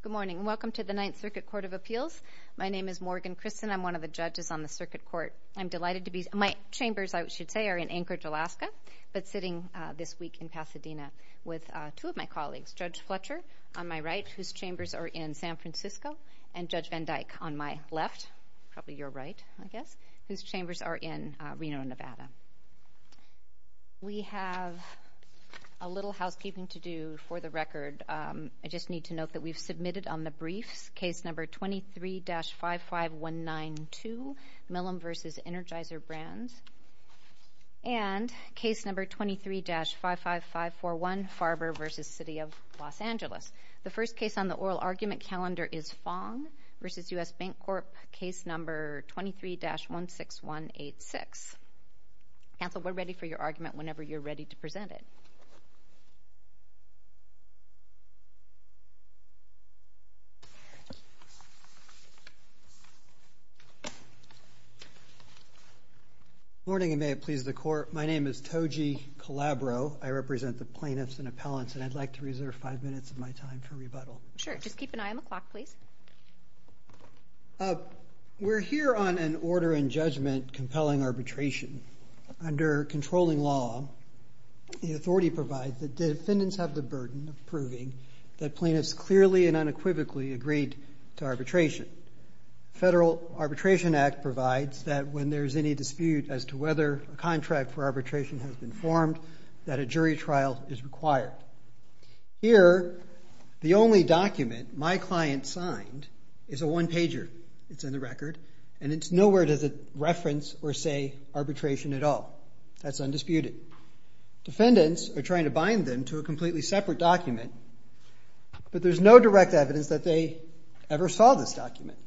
Good morning, and welcome to the Ninth Circuit Court of Appeals. My name is Morgan Christen. I am one of the judges on the circuit court. I am delighted to be here. My chambers, I should say, are in Anchorage, Alaska, but sitting this week in Pasadena with two of my colleagues, Judge Fletcher on my right, whose chambers are in San Francisco, and Judge Van Dyke on my left, probably your right, I guess, whose chambers are in Reno, Nevada. We have a little housekeeping to do for the record. I just need to note that we've submitted on the briefs case number 23-55192, Millam v. Energizer Brands, and case number 23-55541, Farber v. City of Los Angeles. The first case on the oral argument calendar is Fong v. U.S. Bancorp, case number 23-16186. Counsel, we're ready for your argument whenever you're ready to present it. Good morning, and may it please the Court. My name is Toji Calabro. I represent the plaintiffs and appellants, and I'd like to reserve five minutes of my time for rebuttal. Sure. Just keep an eye on the clock, please. We're here on an order in judgment compelling arbitration. Under controlling law, the authority provides that defendants have the burden of proving that plaintiffs clearly and unequivocally agreed to arbitration. The Federal Arbitration Act provides that when there's any dispute as to whether a contract for arbitration has been formed, that a jury trial is required. Here, the only document my client signed is a one-pager. It's in the record, and nowhere does it reference or say arbitration at all. That's undisputed. Defendants are trying to bind them to a completely separate document, but there's no direct evidence that they ever saw this document.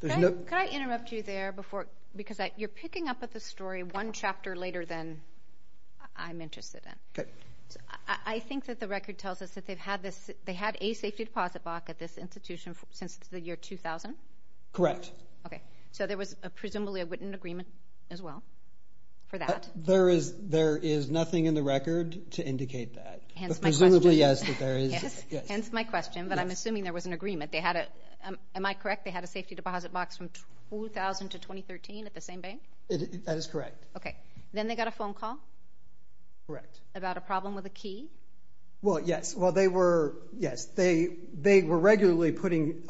Could I interrupt you there, because you're picking up at the story one chapter later than I'm interested in. I think that the record tells us that they've had a safety deposit box at this institution since the year 2000? Correct. Okay. So there was presumably a written agreement as well for that? There is nothing in the record to indicate that. Hence my question. Presumably, yes. Hence my question, but I'm assuming there was an agreement. Am I correct? They had a safety deposit box from 2000 to 2013 at the same bank? That is correct. Okay. Then they got a phone call? Correct. About a problem with a key? Well, yes. Well, they were, yes. They were regularly putting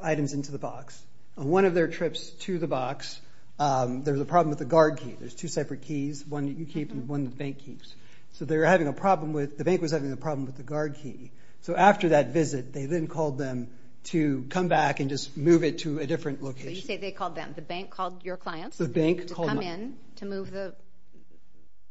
items into the box. One of their trips to the box, there was a problem with the guard key. There's two separate keys, one that you keep and one that the bank keeps. So they were having a problem with, the bank was having a problem with the guard key. So after that visit, they then called them to come back and just move it to a different location. So you say they called them. The bank called your clients? Yes. The bank called my clients. To come in, to move the...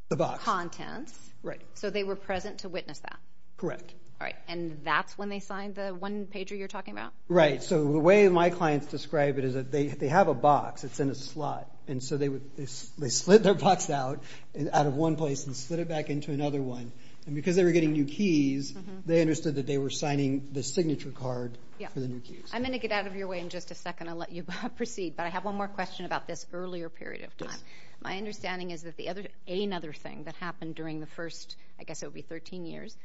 The box. ...contents. Right. So they were present to witness that? Correct. All right. And that's when they signed the one pager you're talking about? Right. So the way my clients describe it is that they have a box, it's in a slot. And so they would, they split their box out, out of one place and split it back into another one. And because they were getting new keys, they understood that they were signing the signature card for the new keys. I'm going to get out of your way in just a second. I'll let you proceed. But I have one more question about this earlier period of time. My understanding is that the other, another thing that happened during the first, I guess it would be 13 years,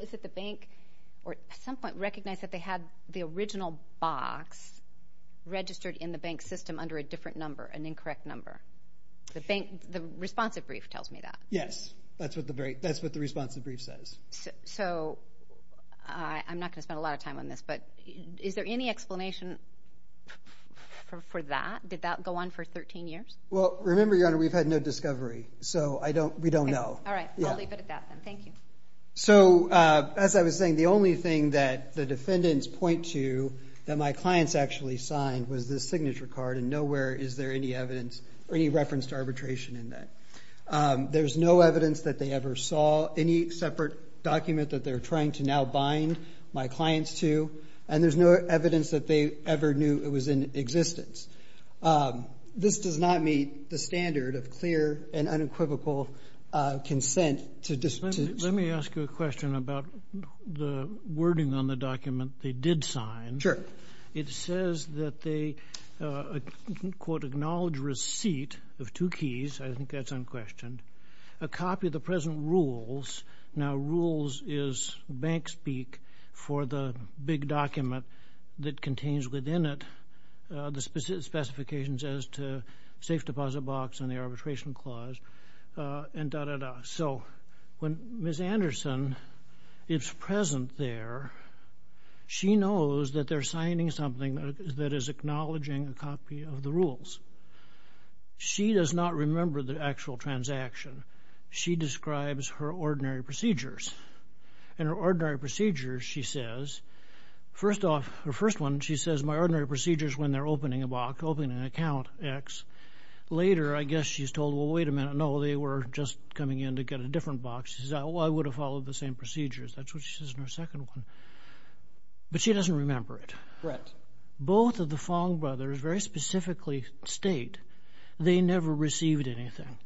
is that the bank at some point recognized that they had the original box registered in the bank system under a different number, an incorrect number. The bank, the responsive brief tells me that. Yes. That's what the very, that's what the responsive brief says. So I'm not going to spend a lot of time on this, but is there any explanation for that? Did that go on for 13 years? Well, remember, Your Honor, we've had no discovery. So I don't, we don't know. All right. I'll leave it at that then. Thank you. So as I was saying, the only thing that the defendants point to that my clients actually signed was the signature card and nowhere is there any evidence or any reference to arbitration in that. There's no evidence that they ever saw any separate document that they're trying to now bind my clients to, and there's no evidence that they ever knew it was in existence. This does not meet the standard of clear and unequivocal consent to dispute. Let me ask you a question about the wording on the document they did sign. Sure. It says that they, quote, acknowledge receipt of two keys, I think that's unquestioned, a copy of the present rules, now rules is bank speak for the big document that contains within it the specific specifications as to safe deposit box and the arbitration clause and da, da, da. So when Ms. Anderson is present there, she knows that they're signing something that is acknowledging a copy of the rules. She does not remember the actual transaction. She describes her ordinary procedures. And her ordinary procedures, she says, first off, her first one, she says, my ordinary procedures when they're opening a box, opening an account, X. Later, I guess she's told, well, wait a minute, no, they were just coming in to get a different box. She says, oh, I would have followed the same procedures. That's what she says in her second one. But she doesn't remember it. Both of the Fong brothers very specifically state they never received anything.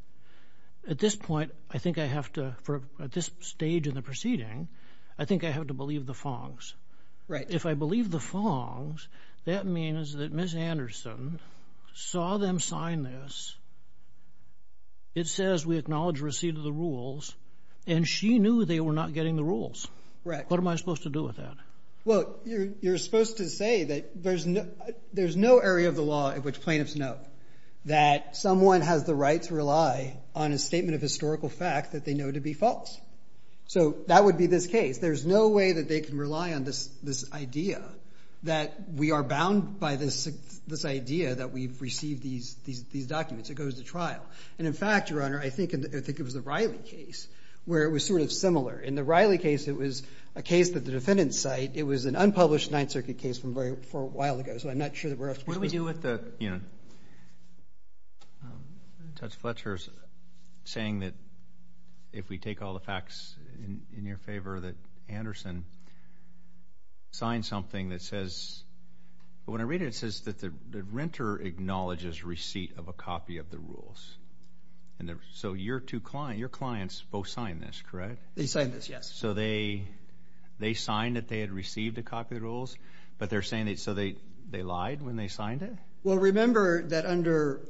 At this point, I think I have to, at this stage in the proceeding, I think I have to believe the Fongs. If I believe the Fongs, that means that Ms. Anderson saw them sign this. It says we acknowledge receipt of the rules. And she knew they were not getting the rules. What am I supposed to do with that? Well, you're supposed to say that there's no area of the law in which plaintiffs know that someone has the right to rely on a statement of historical fact that they know to be false. So that would be this case. There's no way that they can rely on this idea that we are bound by this idea that we've received these documents. It goes to trial. And in fact, Your Honor, I think it was the Riley case where it was sort of similar. In the Riley case, it was a case that the defendants cite. It was an unpublished Ninth Circuit case from a while ago. So I'm not sure that we're supposed to. What do we do with the, you know, Judge Fletcher's saying that if we take all the facts in your favor, that Anderson signed something that says, when I read it, it says that the renter acknowledges receipt of a copy of the rules. So your two clients, your clients both signed this, correct? They signed this, yes. So they signed that they had received a copy of the rules, but they're saying they lied when they signed it? Well, remember that under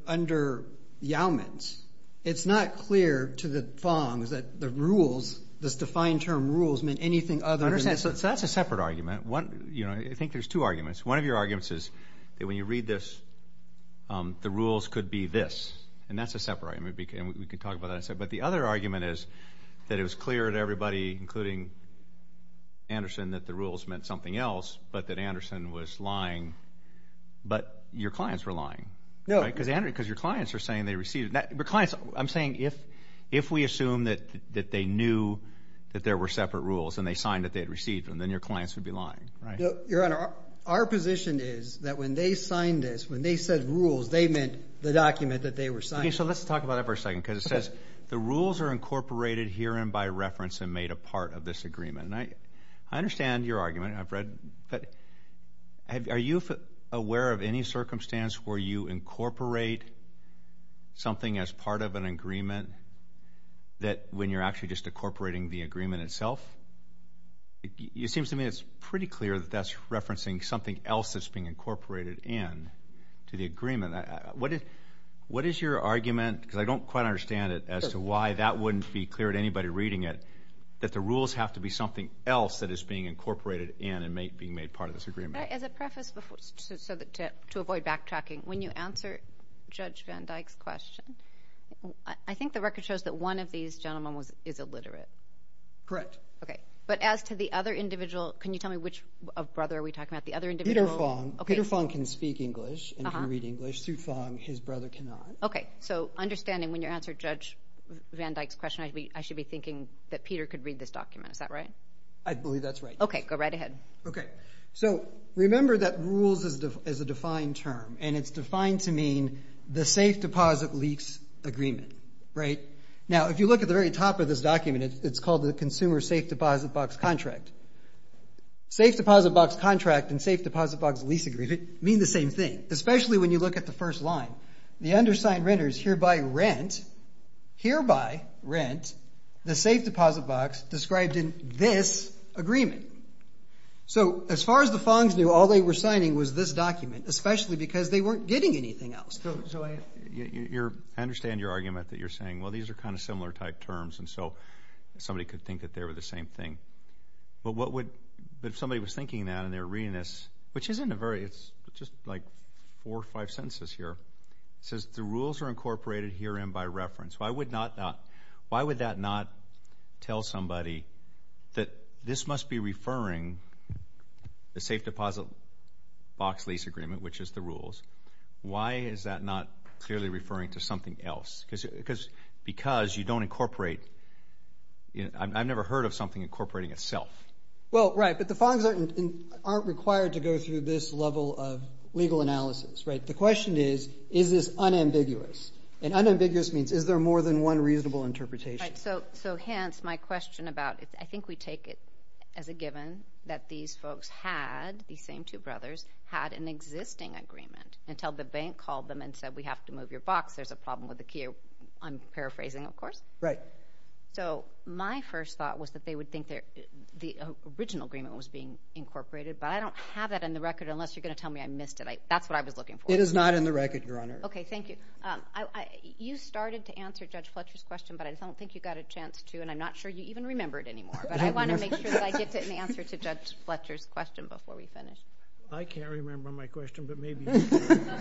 Yaumans, it's not clear to the Fong's that the rules, this defined term rules, meant anything other than this. I understand. So that's a separate argument. You know, I think there's two arguments. One of your arguments is that when you read this, the rules could be this. And that's a separate argument. And we can talk about that in a second. But the other argument is that it was clear to everybody, including Anderson, that the rules meant something else, but that Anderson was lying. But your clients were lying, right? No. Because your clients are saying they received it. I'm saying if we assume that they knew that there were separate rules, and they signed that they had received them, then your clients would be lying. Right. Your Honor, our position is that when they signed this, when they said rules, they meant the document that they were signing. So let's talk about that for a second, because it says, the rules are incorporated herein by reference and made a part of this agreement. And I understand your argument, I've read, but are you aware of any circumstance where you incorporate something as part of an agreement, that when you're actually just incorporating the agreement itself, it seems to me it's pretty clear that that's referencing something else that's being incorporated in to the agreement. What is your argument, because I don't quite understand it, as to why that wouldn't be clear to anybody reading it, that the rules have to be something else that is being incorporated in and being made part of this agreement? As a preface, to avoid backtracking, when you answer Judge Van Dyck's question, I think the record shows that one of these gentlemen is illiterate. Correct. Okay. But as to the other individual, can you tell me which brother are we talking about? The other individual? Peter Fong. Peter Fong can speak English and can read English. Sue Fong, his brother, cannot. Okay. So understanding when you answer Judge Van Dyck's question, I should be thinking that Peter could read this document, is that right? I believe that's right. Okay. Go right ahead. Okay. So remember that rules is a defined term, and it's defined to mean the safe deposit lease agreement, right? Now if you look at the very top of this document, it's called the consumer safe deposit box contract. Safe deposit box contract and safe deposit box lease agreement mean the same thing, especially when you look at the first line. The undersigned renters hereby rent, hereby rent, the safe deposit box described in this So as far as the Fongs knew, all they were signing was this document, especially because they weren't getting anything else. So I understand your argument that you're saying, well, these are kind of similar type terms, and so somebody could think that they were the same thing. But what would, if somebody was thinking that and they were reading this, which isn't a very, it's just like four or five sentences here, it says the rules are incorporated herein by reference. Why would that not tell somebody that this must be referring, the safe deposit box lease agreement, which is the rules. Why is that not clearly referring to something else? Because you don't incorporate, I've never heard of something incorporating itself. Well, right. But the Fongs aren't required to go through this level of legal analysis, right? The question is, is this unambiguous? And unambiguous means, is there more than one reasonable interpretation? So hence, my question about it, I think we take it as a given that these folks had, these same two brothers, had an existing agreement until the bank called them and said, we have to move your box. There's a problem with the key, I'm paraphrasing, of course. So my first thought was that they would think the original agreement was being incorporated, but I don't have that in the record unless you're going to tell me I missed it. That's what I was looking for. It is not in the record, Your Honor. Okay. Thank you. You started to answer Judge Fletcher's question, but I don't think you got a chance to, and I'm not sure you even remember it anymore. But I want to make sure that I get an answer to Judge Fletcher's question before we finish. I can't remember my question, but maybe you can.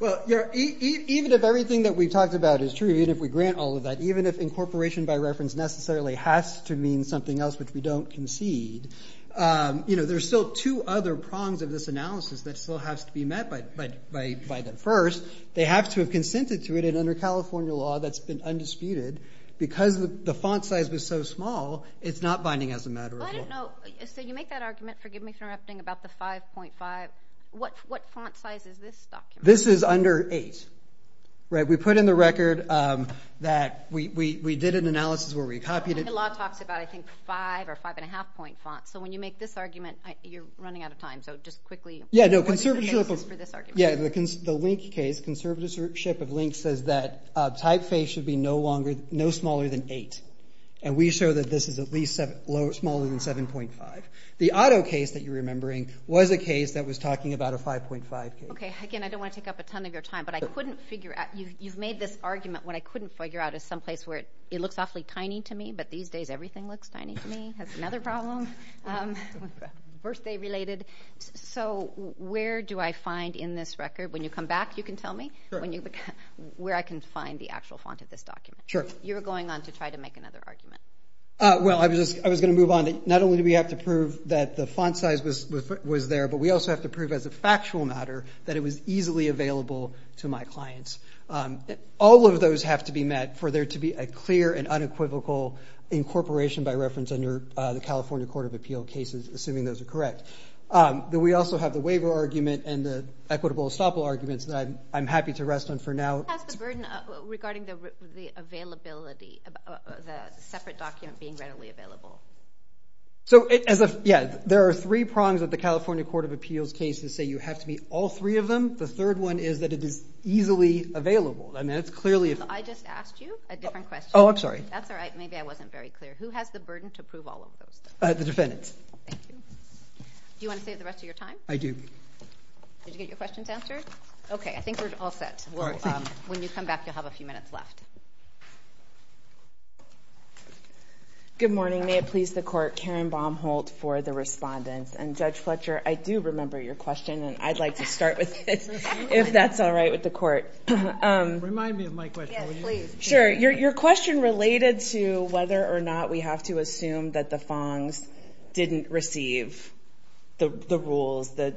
Well, even if everything that we've talked about is true, even if we grant all of that, even if incorporation by reference necessarily has to mean something else which we don't concede, there's still two other prongs of this analysis that still has to be met by the judge. First, they have to have consented to it, and under California law, that's been undisputed. Because the font size was so small, it's not binding as a matter of law. Well, I don't know. So you make that argument, forgive me for interrupting, about the 5.5. What font size is this document? This is under 8, right? We put in the record that we did an analysis where we copied it. The law talks about, I think, 5 or 5.5 point font. So when you make this argument, you're running out of time. So just quickly, what is the basis for this argument? Yeah, the Link case, conservatorship of Link says that typeface should be no smaller than 8, and we show that this is at least smaller than 7.5. The Otto case that you're remembering was a case that was talking about a 5.5 case. Okay, again, I don't want to take up a ton of your time, but I couldn't figure out, you've made this argument, what I couldn't figure out is some place where it looks awfully tiny to me, but these days everything looks tiny to me, that's another problem, birthday related. So where do I find in this record, when you come back, you can tell me, where I can find the actual font of this document? Sure. You were going on to try to make another argument. Well, I was going to move on. Not only do we have to prove that the font size was there, but we also have to prove as a factual matter that it was easily available to my clients. All of those have to be met for there to be a clear and unequivocal incorporation by reference under the California Court of Appeal cases, assuming those are correct. We also have the waiver argument and the equitable estoppel arguments that I'm happy to rest on for now. What's the burden regarding the availability of the separate document being readily available? So there are three prongs of the California Court of Appeals case to say you have to meet all three of them. The third one is that it is easily available. I just asked you a different question. Oh, I'm sorry. That's all right, maybe I wasn't very clear. Who has the burden to prove all of those things? The defendants. Thank you. Do you want to save the rest of your time? I do. Did you get your questions answered? Okay. I think we're all set. All right. Thank you. When you come back, you'll have a few minutes left. Good morning. May it please the Court. Karen Baumholt for the respondents. And Judge Fletcher, I do remember your question, and I'd like to start with it, if that's all Remind me of my question, will you? Yes, please. Sure. Your question related to whether or not we have a separate document. We have to assume that the FONGs didn't receive the rules, the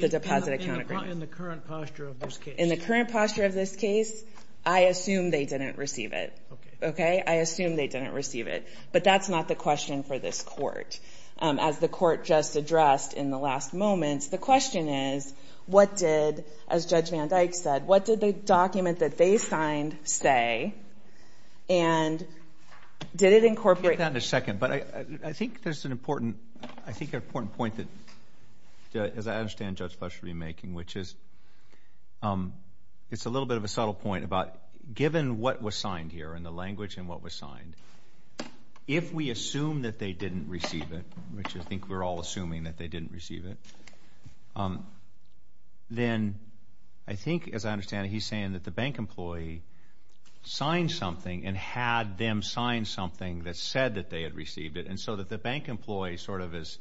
deposit account agreement. In the current posture of this case? In the current posture of this case, I assume they didn't receive it. Okay. Okay? I assume they didn't receive it. But that's not the question for this Court, as the Court just addressed in the last moments. The question is, what did, as Judge Van Dyke said, what did the document that they signed say, and did it incorporate? I'll get to that in a second. But I think there's an important point that, as I understand Judge Fletcher will be making, which is, it's a little bit of a subtle point about, given what was signed here, and the language and what was signed, if we assume that they didn't receive it, which I think we're all assuming that they didn't receive it, then I think, as I understand it, he's saying that the bank employee signed something and had them sign something that said that they had received it, and so that the bank employee sort of is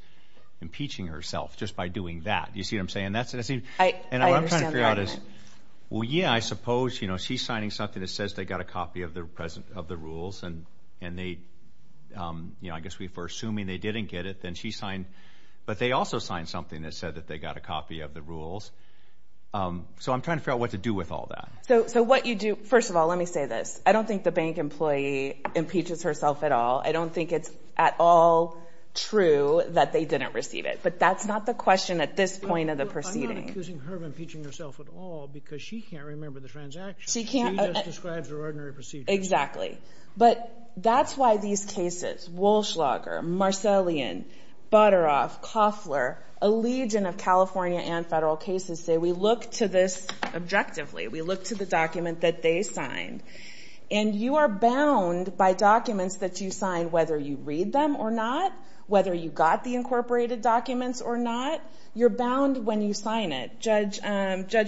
impeaching herself just by doing that. Do you see what I'm saying? I understand that. And what I'm trying to figure out is, well, yeah, I suppose, you know, she's signing something that says they got a copy of the rules, and they, you know, I guess we're assuming they didn't get it. Then she signed, but they also signed something that said that they got a copy of the rules. So, I'm trying to figure out what to do with all that. So, what you do, first of all, let me say this, I don't think the bank employee impeaches herself at all. I don't think it's at all true that they didn't receive it, but that's not the question at this point of the proceeding. I'm not accusing her of impeaching herself at all, because she can't remember the transaction. She just describes her ordinary procedure. Exactly. But, that's why these cases, Walschlager, Marcellian, Butteroff, Koffler, a legion of California and federal cases say we look to this objectively, we look to the document that they signed, and you are bound by documents that you sign, whether you read them or not, whether you got the incorporated documents or not, you're bound when you sign it. Judge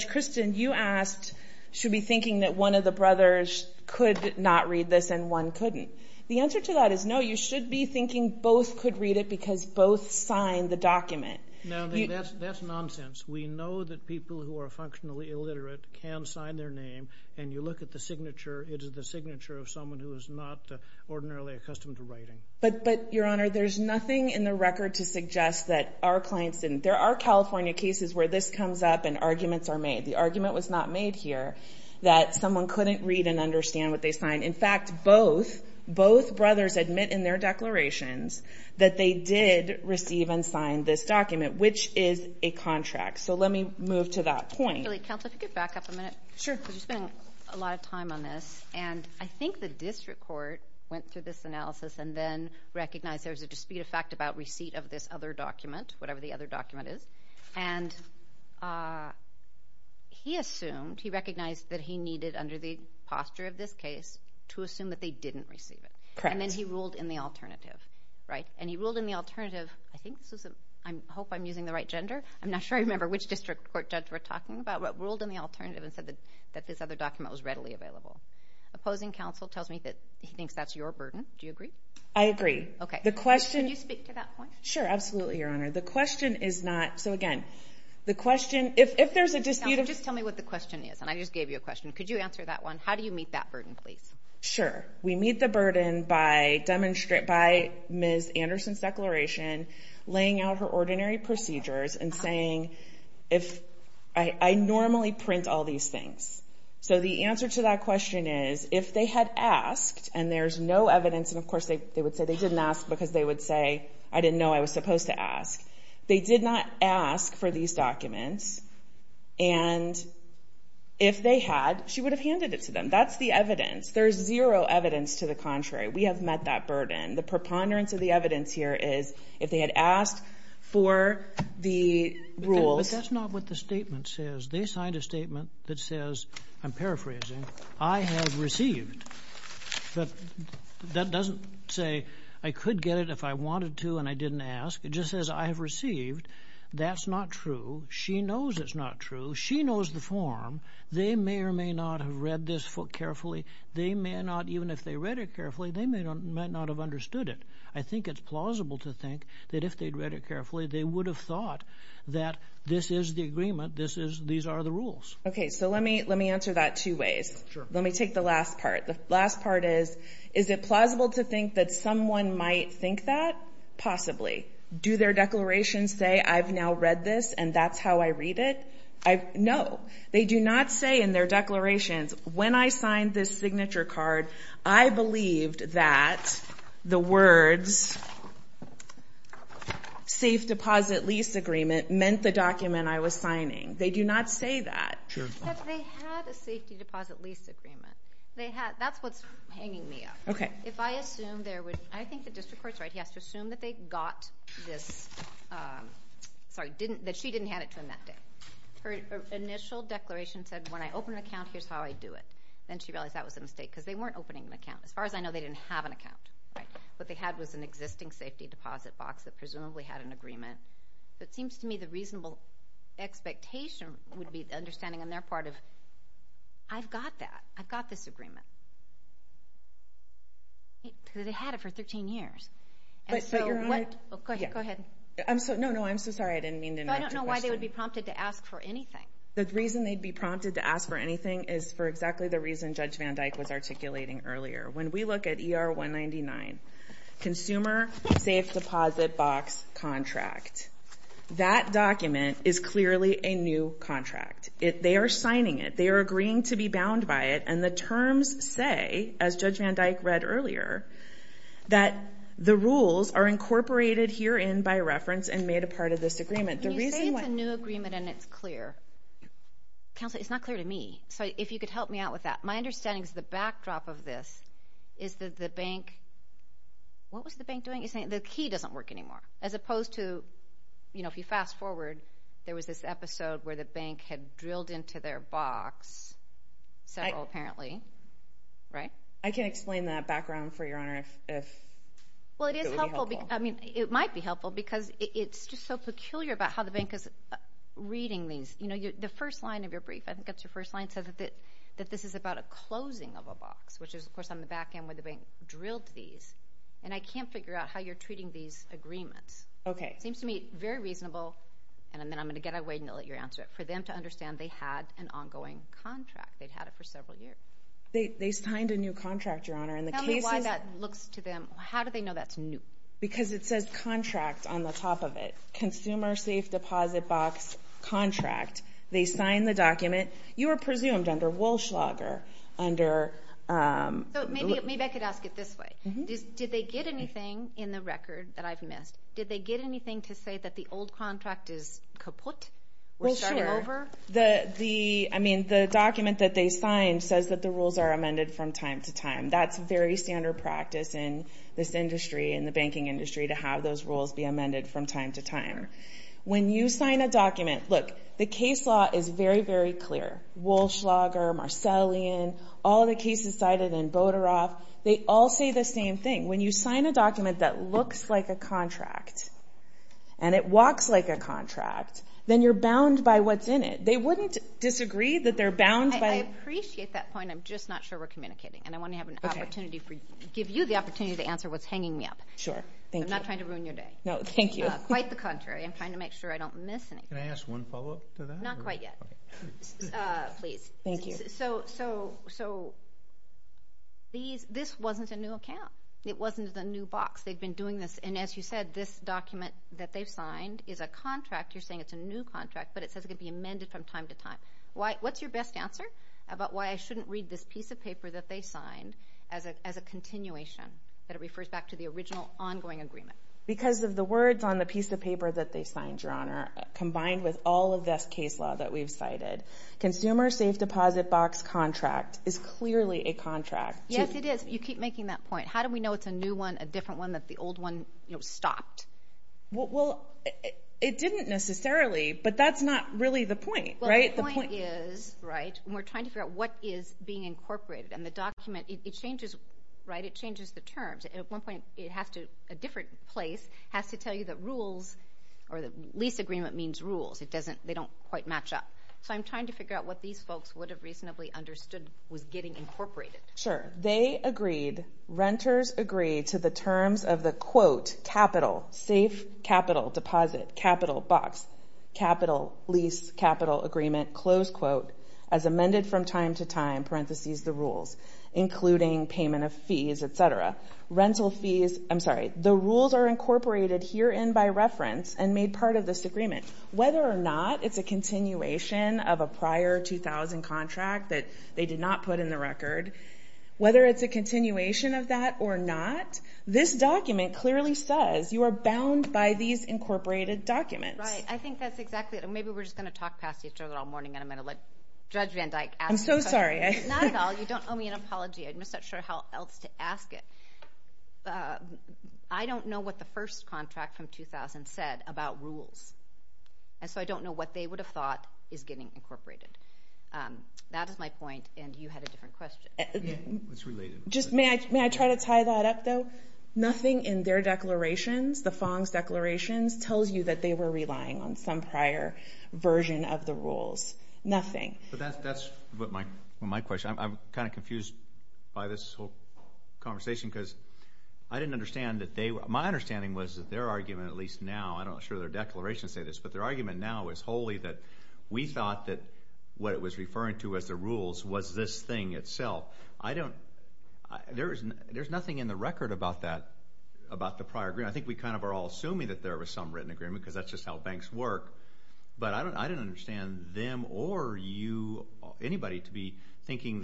Christin, you asked, should we be thinking that one of the brothers could not read this and one couldn't. The answer to that is no, you should be thinking both could read it because both signed the document. No, that's nonsense. We know that people who are functionally illiterate can sign their name, and you look at the signature, it is the signature of someone who is not ordinarily accustomed to writing. But Your Honor, there's nothing in the record to suggest that our clients didn't. There are California cases where this comes up and arguments are made. The argument was not made here that someone couldn't read and understand what they signed. In fact, both, both brothers admit in their declarations that they did receive and sign this document, which is a contract. So let me move to that point. Julie, counsel, if you could back up a minute. Sure. Because you're spending a lot of time on this, and I think the district court went through this analysis and then recognized there was a dispute of fact about receipt of this other document, whatever the other document is, and he assumed, he recognized that he needed under the posture of this case to assume that they didn't receive it. Correct. And then he ruled in the alternative, right? I hope I'm using the right gender. I'm not sure I remember which district court judge we're talking about, but ruled in the alternative and said that this other document was readily available. Opposing counsel tells me that he thinks that's your burden. Do you agree? I agree. Okay. The question... Can you speak to that point? Sure. Absolutely, Your Honor. The question is not... So again, the question... If there's a dispute of... Counsel, just tell me what the question is, and I just gave you a question. Could you answer that one? How do you meet that burden, please? Sure. We meet the burden by Ms. Anderson's declaration, laying out her ordinary procedures and saying, if... I normally print all these things. So the answer to that question is, if they had asked, and there's no evidence, and of course, they would say they didn't ask because they would say, I didn't know I was supposed to ask. They did not ask for these documents, and if they had, she would have handed it to them. That's the evidence. There's zero evidence to the contrary. We have met that burden. The preponderance of the evidence here is, if they had asked for the rules... But that's not what the statement says. They signed a statement that says, I'm paraphrasing, I have received. But that doesn't say, I could get it if I wanted to and I didn't ask. It just says, I have received. That's not true. She knows it's not true. She knows the form. They may or may not have read this carefully. They may not, even if they read it carefully, they might not have understood it. I think it's plausible to think that if they'd read it carefully, they would have thought that this is the agreement, these are the rules. Okay. So let me answer that two ways. Sure. Let me take the last part. The last part is, is it plausible to think that someone might think that? Possibly. Do their declarations say, I've now read this and that's how I read it? No. They do not say in their declarations, when I signed this signature card, I believed that the words, safe deposit lease agreement, meant the document I was signing. They do not say that. Sure. But they had a safety deposit lease agreement. They had, that's what's hanging me up. Okay. If I assume there was, I think the district court's right, he has to assume that they got this, sorry, that she didn't hand it to him that day. Her initial declaration said, when I open an account, here's how I do it. Then she realized that was a mistake because they weren't opening an account. As far as I know, they didn't have an account. Right? What they had was an existing safety deposit box that presumably had an agreement. So it seems to me the reasonable expectation would be the understanding on their part of, I've got that. I've got this agreement. Because they had it for 13 years. But Your Honor. Go ahead. Go ahead. No, no, I'm so sorry. I didn't mean to interrupt your question. The reason they would be prompted to ask for anything. The reason they'd be prompted to ask for anything is for exactly the reason Judge Van Dyke was articulating earlier. When we look at ER 199, consumer safe deposit box contract, that document is clearly a new contract. They are signing it. They are agreeing to be bound by it. And the terms say, as Judge Van Dyke read earlier, that the rules are incorporated here in by reference and made a part of this agreement. When you say it's a new agreement and it's clear, counsel, it's not clear to me. So if you could help me out with that. My understanding is the backdrop of this is that the bank, what was the bank doing? You're saying the key doesn't work anymore. As opposed to, you know, if you fast forward, there was this episode where the bank had drilled into their box, several apparently. Right? I can explain that background for Your Honor if it would be helpful. I mean, it might be helpful because it's just so peculiar about how the bank is reading these. You know, the first line of your brief, I think that's your first line, says that this is about a closing of a box, which is, of course, on the back end where the bank drilled these. And I can't figure out how you're treating these agreements. Okay. It seems to me very reasonable, and then I'm going to get away and let you answer it, for them to understand they had an ongoing contract. They've had it for several years. They signed a new contract, Your Honor. Tell me why that looks to them. How do they know that's new? Because it says contract on the top of it. Consumer safe deposit box contract. They signed the document. You were presumed under Walschlager, under... Maybe I could ask it this way. Did they get anything in the record that I've missed? Did they get anything to say that the old contract is kaput? Well, sure. We're starting over? I mean, the document that they signed says that the rules are amended from time to time. That's very standard practice in this industry, in the banking industry, to have those rules be amended from time to time. When you sign a document, look, the case law is very, very clear. Walschlager, Marcellin, all the cases cited in Bodorov, they all say the same thing. When you sign a document that looks like a contract, and it walks like a contract, then you're bound by what's in it. They wouldn't disagree that they're bound by... I appreciate that point. I'm just not sure we're communicating, and I want to give you the opportunity to answer what's hanging me up. Sure. Thank you. I'm not trying to ruin your day. No, thank you. Quite the contrary. I'm trying to make sure I don't miss anything. Can I ask one follow-up to that? Not quite yet. Please. Thank you. So, this wasn't a new account. It wasn't the new box. They've been doing this, and as you said, this document that they've signed is a contract. You're saying it's a new contract, but it says it could be amended from time to time. What's your best answer about why I shouldn't read this piece of paper that they signed as a continuation, that it refers back to the original ongoing agreement? Because of the words on the piece of paper that they signed, Your Honor, combined with all of this case law that we've cited, consumer safe deposit box contract is clearly a contract. Yes, it is. You keep making that point. How do we know it's a new one, a different one, that the old one stopped? Well, it didn't necessarily, but that's not really the point, right? The point is, right, we're trying to figure out what is being incorporated. And the document, it changes, right? It changes the terms. At one point, it has to, a different place has to tell you that rules or the lease agreement means rules. It doesn't, they don't quite match up. So, I'm trying to figure out what these folks would have reasonably understood was getting incorporated. Sure. They agreed, renters agreed to the terms of the quote, capital, safe capital deposit, capital box, capital lease, capital agreement, close quote, as amended from time to time, parentheses, the rules, including payment of fees, et cetera. Rental fees, I'm sorry. The rules are incorporated herein by reference and made part of this agreement. Whether or not it's a continuation of a prior 2000 contract that they did not put in the record, whether it's a continuation of that or not, this document clearly says you are incorporated documents. Right. I think that's exactly it. And maybe we're just going to talk past each other all morning and I'm going to let Judge Van Dyke ask the question. I'm so sorry. Not at all. You don't owe me an apology. I'm just not sure how else to ask it. I don't know what the first contract from 2000 said about rules. And so, I don't know what they would have thought is getting incorporated. That is my point and you had a different question. It's related. Just may I try to tie that up though? Nothing in their declarations, the Fong's declarations, tells you that they were relying on some prior version of the rules. Nothing. But that's my question. I'm kind of confused by this whole conversation because I didn't understand that they were – my understanding was that their argument at least now, I'm not sure their declarations say this, but their argument now is wholly that we thought that what it was referring to as the rules was this thing itself. I don't – there's nothing in the record about that, about the prior agreement. I think we kind of are all assuming that there was some written agreement because that's just how banks work. But I don't understand them or you or anybody to be thinking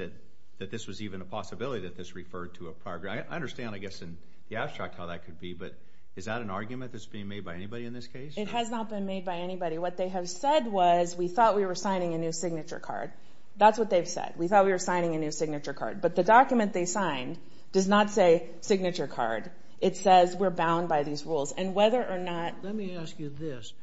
that this was even a possibility that this referred to a prior agreement. I understand, I guess, in the abstract how that could be, but is that an argument that's being made by anybody in this case? It has not been made by anybody. What they have said was we thought we were signing a new signature card. That's what they've said. We thought we were signing a new signature card. But the document they signed does not say signature card. It says we're bound by these rules. And whether or not – Let me ask you this.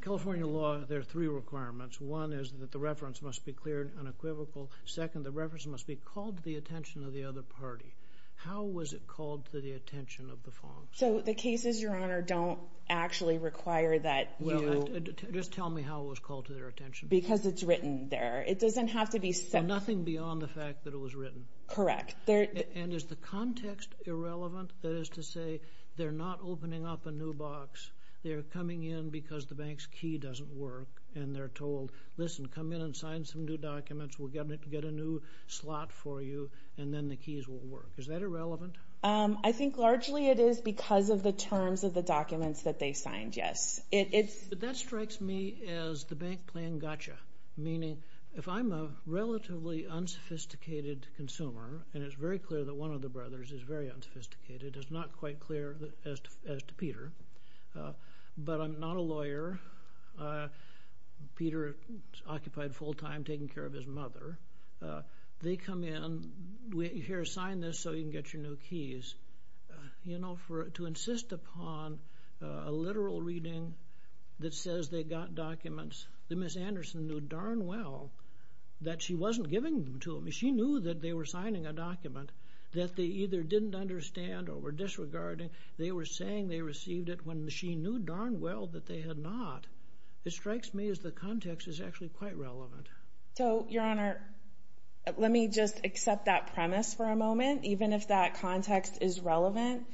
California law, there are three requirements. One is that the reference must be cleared unequivocal. Second, the reference must be called to the attention of the other party. How was it called to the attention of the farms? So the cases, Your Honor, don't actually require that you – Just tell me how it was called to their attention. Because it's written there. It doesn't have to be – So nothing beyond the fact that it was written? Correct. And is the context irrelevant? That is to say, they're not opening up a new box. They're coming in because the bank's key doesn't work. And they're told, listen, come in and sign some new documents. We'll get a new slot for you, and then the keys will work. Is that irrelevant? I think largely it is because of the terms of the documents that they signed, yes. That strikes me as the bank playing gotcha. Meaning, if I'm a relatively unsophisticated consumer, and it's very clear that one of the brothers is very unsophisticated, it's not quite clear as to Peter. But I'm not a lawyer. Peter is occupied full-time taking care of his mother. They come in, here, sign this so you can get your new keys. You know, to insist upon a literal reading that says they got documents that Ms. Anderson knew darn well that she wasn't giving them to them. She knew that they were signing a document that they either didn't understand or were disregarding. They were saying they received it when she knew darn well that they had not. It strikes me as the context is actually quite relevant. So, Your Honor, let me just accept that premise for a moment. Even if that context is relevant,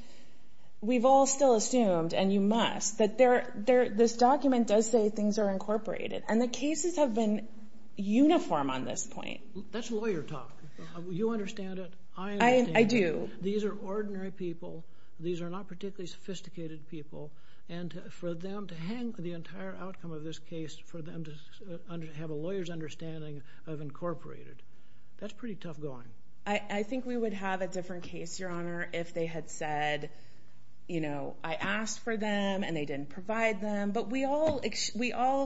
we've all still assumed, and you must, that this document does say things are incorporated. And the cases have been uniform on this point. That's lawyer talk. You understand it. I understand it. I do. These are ordinary people. These are not particularly sophisticated people. And for them to hang the entire outcome of this case, for them to have a lawyer's understanding of incorporated, that's pretty tough going. I think we would have a different case, Your Honor, if they had said, you know, I asked for them and they didn't provide them. But we all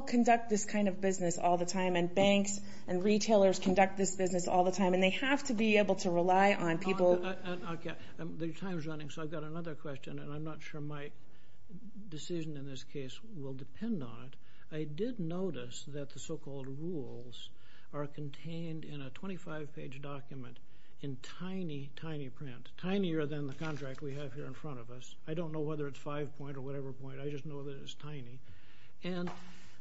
conduct this kind of business all the time. And banks and retailers conduct this business all the time. And they have to be able to rely on people. Okay. The time is running, so I've got another question. And I'm not sure my decision in this case will depend on it. I did notice that the so-called rules are contained in a 25-page document in tiny, tiny print, tinier than the contract we have here in front of us. I don't know whether it's five-point or whatever point. I just know that it's tiny. And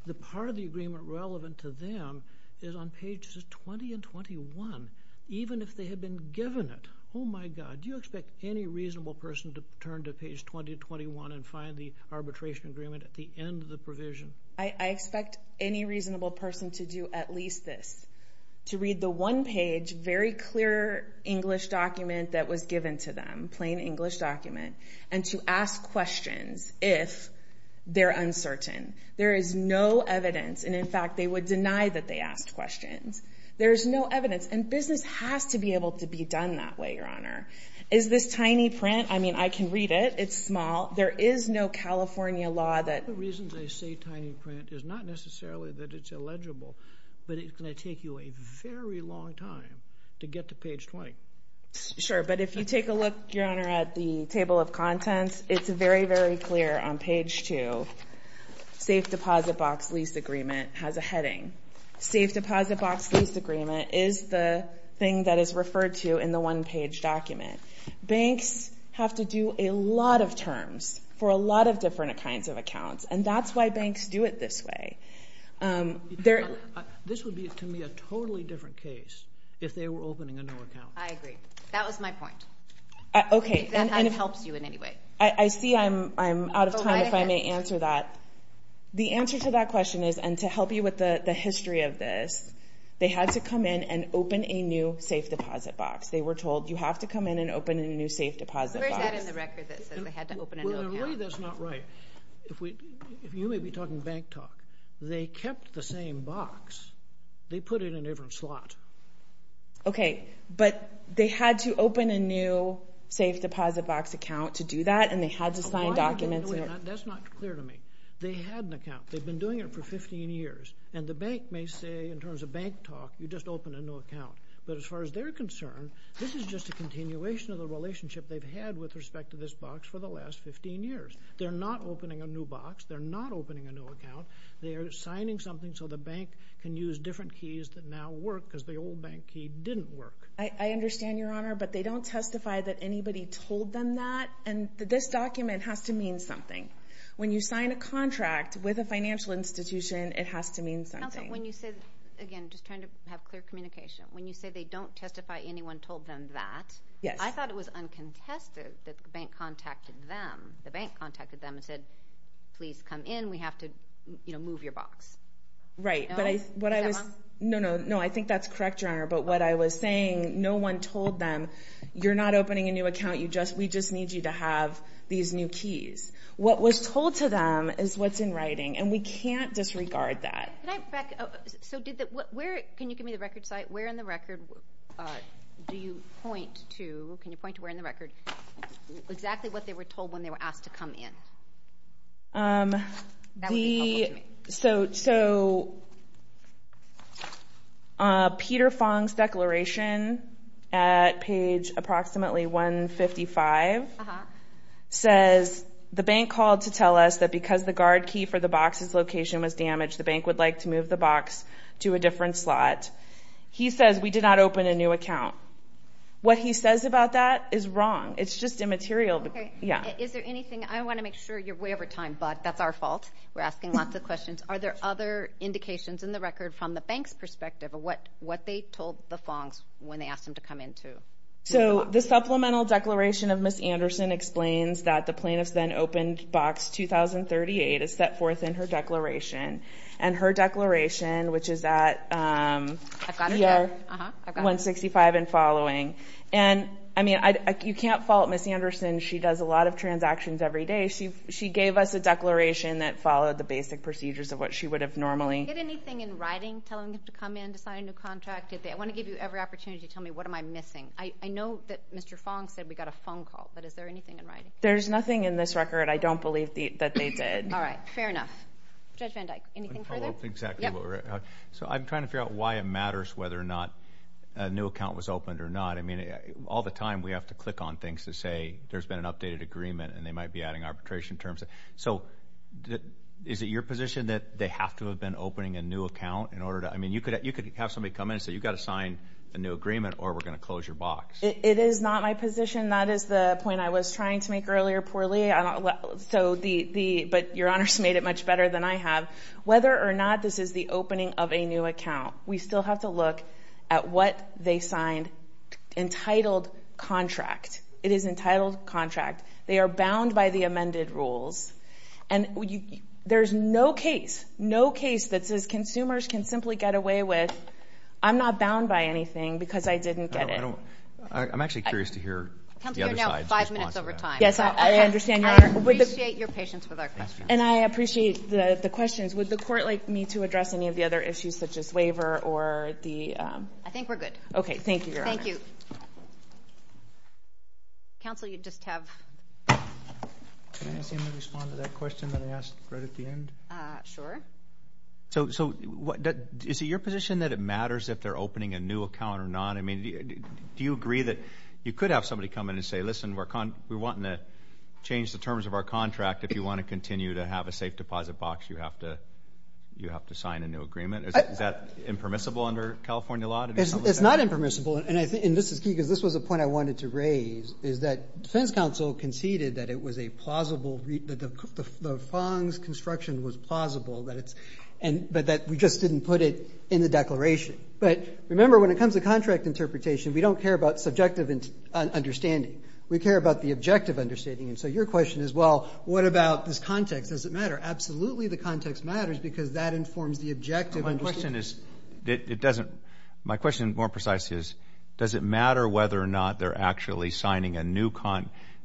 the part of the agreement relevant to them is on pages 20 and 21, even if they had been given it. Oh, my God. Do you expect any reasonable person to turn to page 20 and 21 and find the arbitration agreement at the end of the provision? I expect any reasonable person to do at least this, to read the one-page, very clear English document that was given to them, plain English document, and to ask questions if they're uncertain. There is no evidence. And, in fact, they would deny that they asked questions. There is no evidence. And business has to be able to be done that way, Your Honor. Is this tiny print? I mean, I can read it. It's small. There is no California law that... One of the reasons I say tiny print is not necessarily that it's illegible, but it's going to take you a very long time to get to page 20. Sure, but if you take a look, Your Honor, at the table of contents, it's very, very clear on page 2. Safe deposit box lease agreement has a heading. Safe deposit box lease agreement is the thing that is referred to in the one-page document. Banks have to do a lot of terms for a lot of different kinds of accounts, and that's why banks do it this way. This would be, to me, a totally different case if they were opening a new account. I agree. That was my point. Okay. If that helps you in any way. I see I'm out of time if I may answer that. The answer to that question is, and to help you with the history of this, they had to come in and open a new safe deposit box. They were told, you have to come in and open a new safe deposit box. Where's that in the record that says they had to open a new account? In a way, that's not right. If you may be talking bank talk, they kept the same box. They put it in a different slot. Okay. But they had to open a new safe deposit box account to do that, and they had to sign documents. That's not clear to me. They had an account. They've been doing it for 15 years. And the bank may say, in terms of bank talk, you just opened a new account. But as far as they're concerned, this is just a continuation of the relationship they've had with respect to this box for the last 15 years. They're not opening a new box. They're not opening a new account. They are signing something so the bank can use different keys that now work, because the old bank key didn't work. I understand, Your Honor, but they don't testify that anybody told them that. And this document has to mean something. When you sign a contract with a financial institution, it has to mean something. Counsel, when you say, again, just trying to have clear communication, when you say they don't testify anyone told them that, I thought it was uncontested that the bank contacted them. The bank contacted them and said, please come in, we have to, you know, move your box. Right, but I... Is that wrong? No, no, no, I think that's correct, Your Honor. But what I was saying, no one told them, you're not opening a new account, we just need you to have these new keys. What was told to them is what's in writing, and we can't disregard that. Can I back up? So did the... Can you give me the record site? Where in the record do you point to... Can you point to where in the record... When you're asked to come in? Um, the... That would be helpful to me. So... Peter Fong's declaration at page approximately 155... Uh-huh. ...says, the bank called to tell us that because the guard key for the box's location was damaged, the bank would like to move the box to a different slot. He says, we did not open a new account. What he says about that is wrong. It's just immaterial. Okay. Yeah. Is there anything... I want to make sure you're way over time, but that's our fault. We're asking lots of questions. Are there other indications in the record from the bank's perspective of what they told the Fongs when they asked them to come in to? So the supplemental declaration of Ms. Anderson explains that the plaintiff's then-opened box 2038 is set forth in her declaration, and her declaration, which is at, um... I've got it there. ...year 165 and following. And, I mean, you can't fault Ms. Anderson. She does a lot of transactions every day. She gave us a declaration that followed the basic procedures of what she would have normally... Did they get anything in writing telling them to come in to sign a new contract? I want to give you every opportunity to tell me, what am I missing? I know that Mr. Fong said we got a phone call, but is there anything in writing? There's nothing in this record. I don't believe that they did. All right. Fair enough. Judge Van Dyke, anything further? I'm trying to figure out why it matters whether or not a new account was opened or not. I mean, all the time, we have to click on things to say there's been an updated agreement and they might be adding arbitration terms. So is it your position that they have to have been opening a new account in order to... I mean, you could have somebody come in and say, you've got to sign a new agreement or we're going to close your box. It is not my position. That is the point I was trying to make earlier, poorly. So the... But Your Honor's made it much better than I have. Whether or not this is the opening of a new account, we still have to look at what they signed entitled contract. It is entitled contract. They are bound by the amended rules. And there's no case, no case that says consumers can simply get away with, I'm not bound by anything because I didn't get it. I don't... I'm actually curious to hear the other side's response to that. Yes, I understand, Your Honor. I appreciate your patience with our questions. And I appreciate the questions. Would the court like me to address any of the other issues such as waiver or the... I think we're good. Okay, thank you, Your Honor. Thank you. Counsel, you just have... Can I ask him to respond to that question that I asked right at the end? Sure. So is it your position that it matters if they're opening a new account or not? I mean, do you agree that you could have somebody come in and say, listen, we're wanting to change the terms of our contract. If you want to continue to have a safe deposit box, you have to sign a new agreement. Is that impermissible under California law? It's not impermissible. And this is key is that defense counsel conceded that it was a plausible... that the Fong's construction was plausible, that it's... but that we just didn't put it in the declaration. But remember, when it comes to contract interpretation, we don't care about subjective understanding. We care about the objective understanding. And so your question is, well, what about this context? Does it matter? Absolutely the context matters because that informs the objective understanding. My question is... it doesn't... my question more precisely is, does it matter whether or not they're actually signing a new...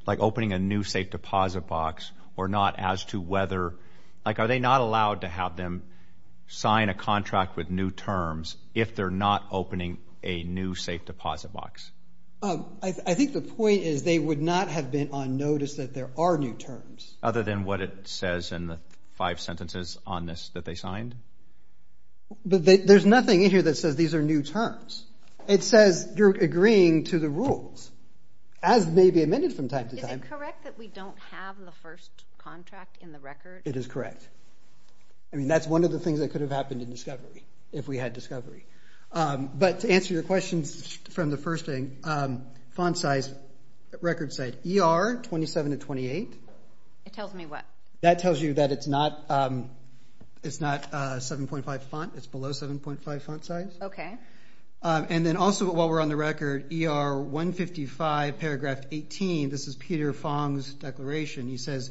like, opening a new safe deposit box or not as to whether... like, are they not allowed to have them sign a contract with new terms if they're not opening a new safe deposit box? I think the point is they would not have been on notice that there are new terms. Other than what it says in the five sentences on this that they signed? There's nothing in here that says these are new terms. It says you're agreeing to the rules, as may be amended from time to time. Is it correct that we don't have the first contract in the record? It is correct. I mean, that's one of the things that could have happened in discovery, if we had discovery. But to answer your questions from the first thing, font size, record size, ER, 27 to 28. It tells me what? That tells you that it's not... it's not 7.5 font, it's below 7.5 font size. Okay. And then also, while we're on the record, ER 155, paragraph 18. This is Peter Fong's declaration. He says,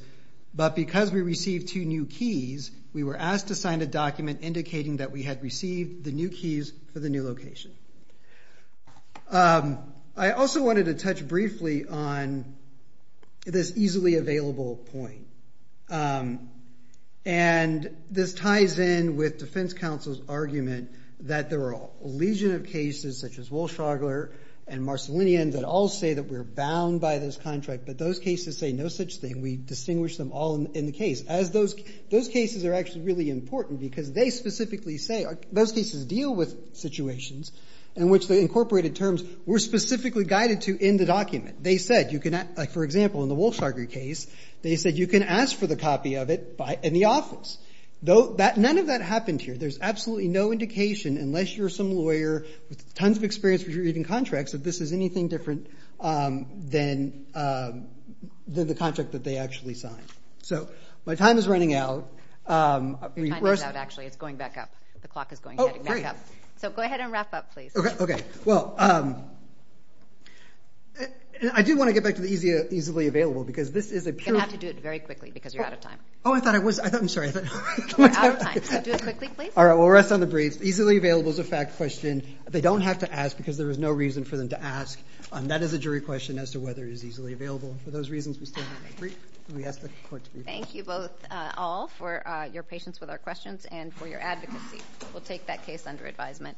but because we received two new keys, we were asked to sign a document indicating that we had received the new keys for the new location. Um, I also wanted to touch briefly on this easily available point. Um, and this ties in with Defense Counsel's argument that there are a legion of cases such as Wohlschlagler and Marcelinian that all say that we're bound by this contract, but those cases say no such thing. We distinguish them all in the case. As those... those cases are actually really important, because they specifically say... those cases deal with situations in which the incorporated terms were specifically guided to in the document. They said you can... like, for example, in the Wohlschlagler case, they said you can ask for the copy of it in the office. Though that... none of that happened here. There's absolutely no indication, unless you're some lawyer with tons of experience with reading contracts, that this is anything different, um, than, um, than the contract that they actually signed. So my time is running out. Um... You'll find out, actually. It's going back up. The clock is going back up. Oh, great. So go ahead and wrap up, please. Okay, okay. Well, um... I do want to get back to the easily available, because this is a pure... You're gonna have to do it very quickly, because you're out of time. Oh, I thought I was... I thought... I'm sorry. We're out of time. So do it quickly, please. All right, we'll rest on the briefs. Easily available is a fact question. They don't have to ask, because there is no reason for them to ask. That is a jury question as to whether it is easily available. For those reasons, we still have a brief. Thank you both, uh, all, for, uh, your patience with our questions and for your advocacy. We'll take that case under advisement.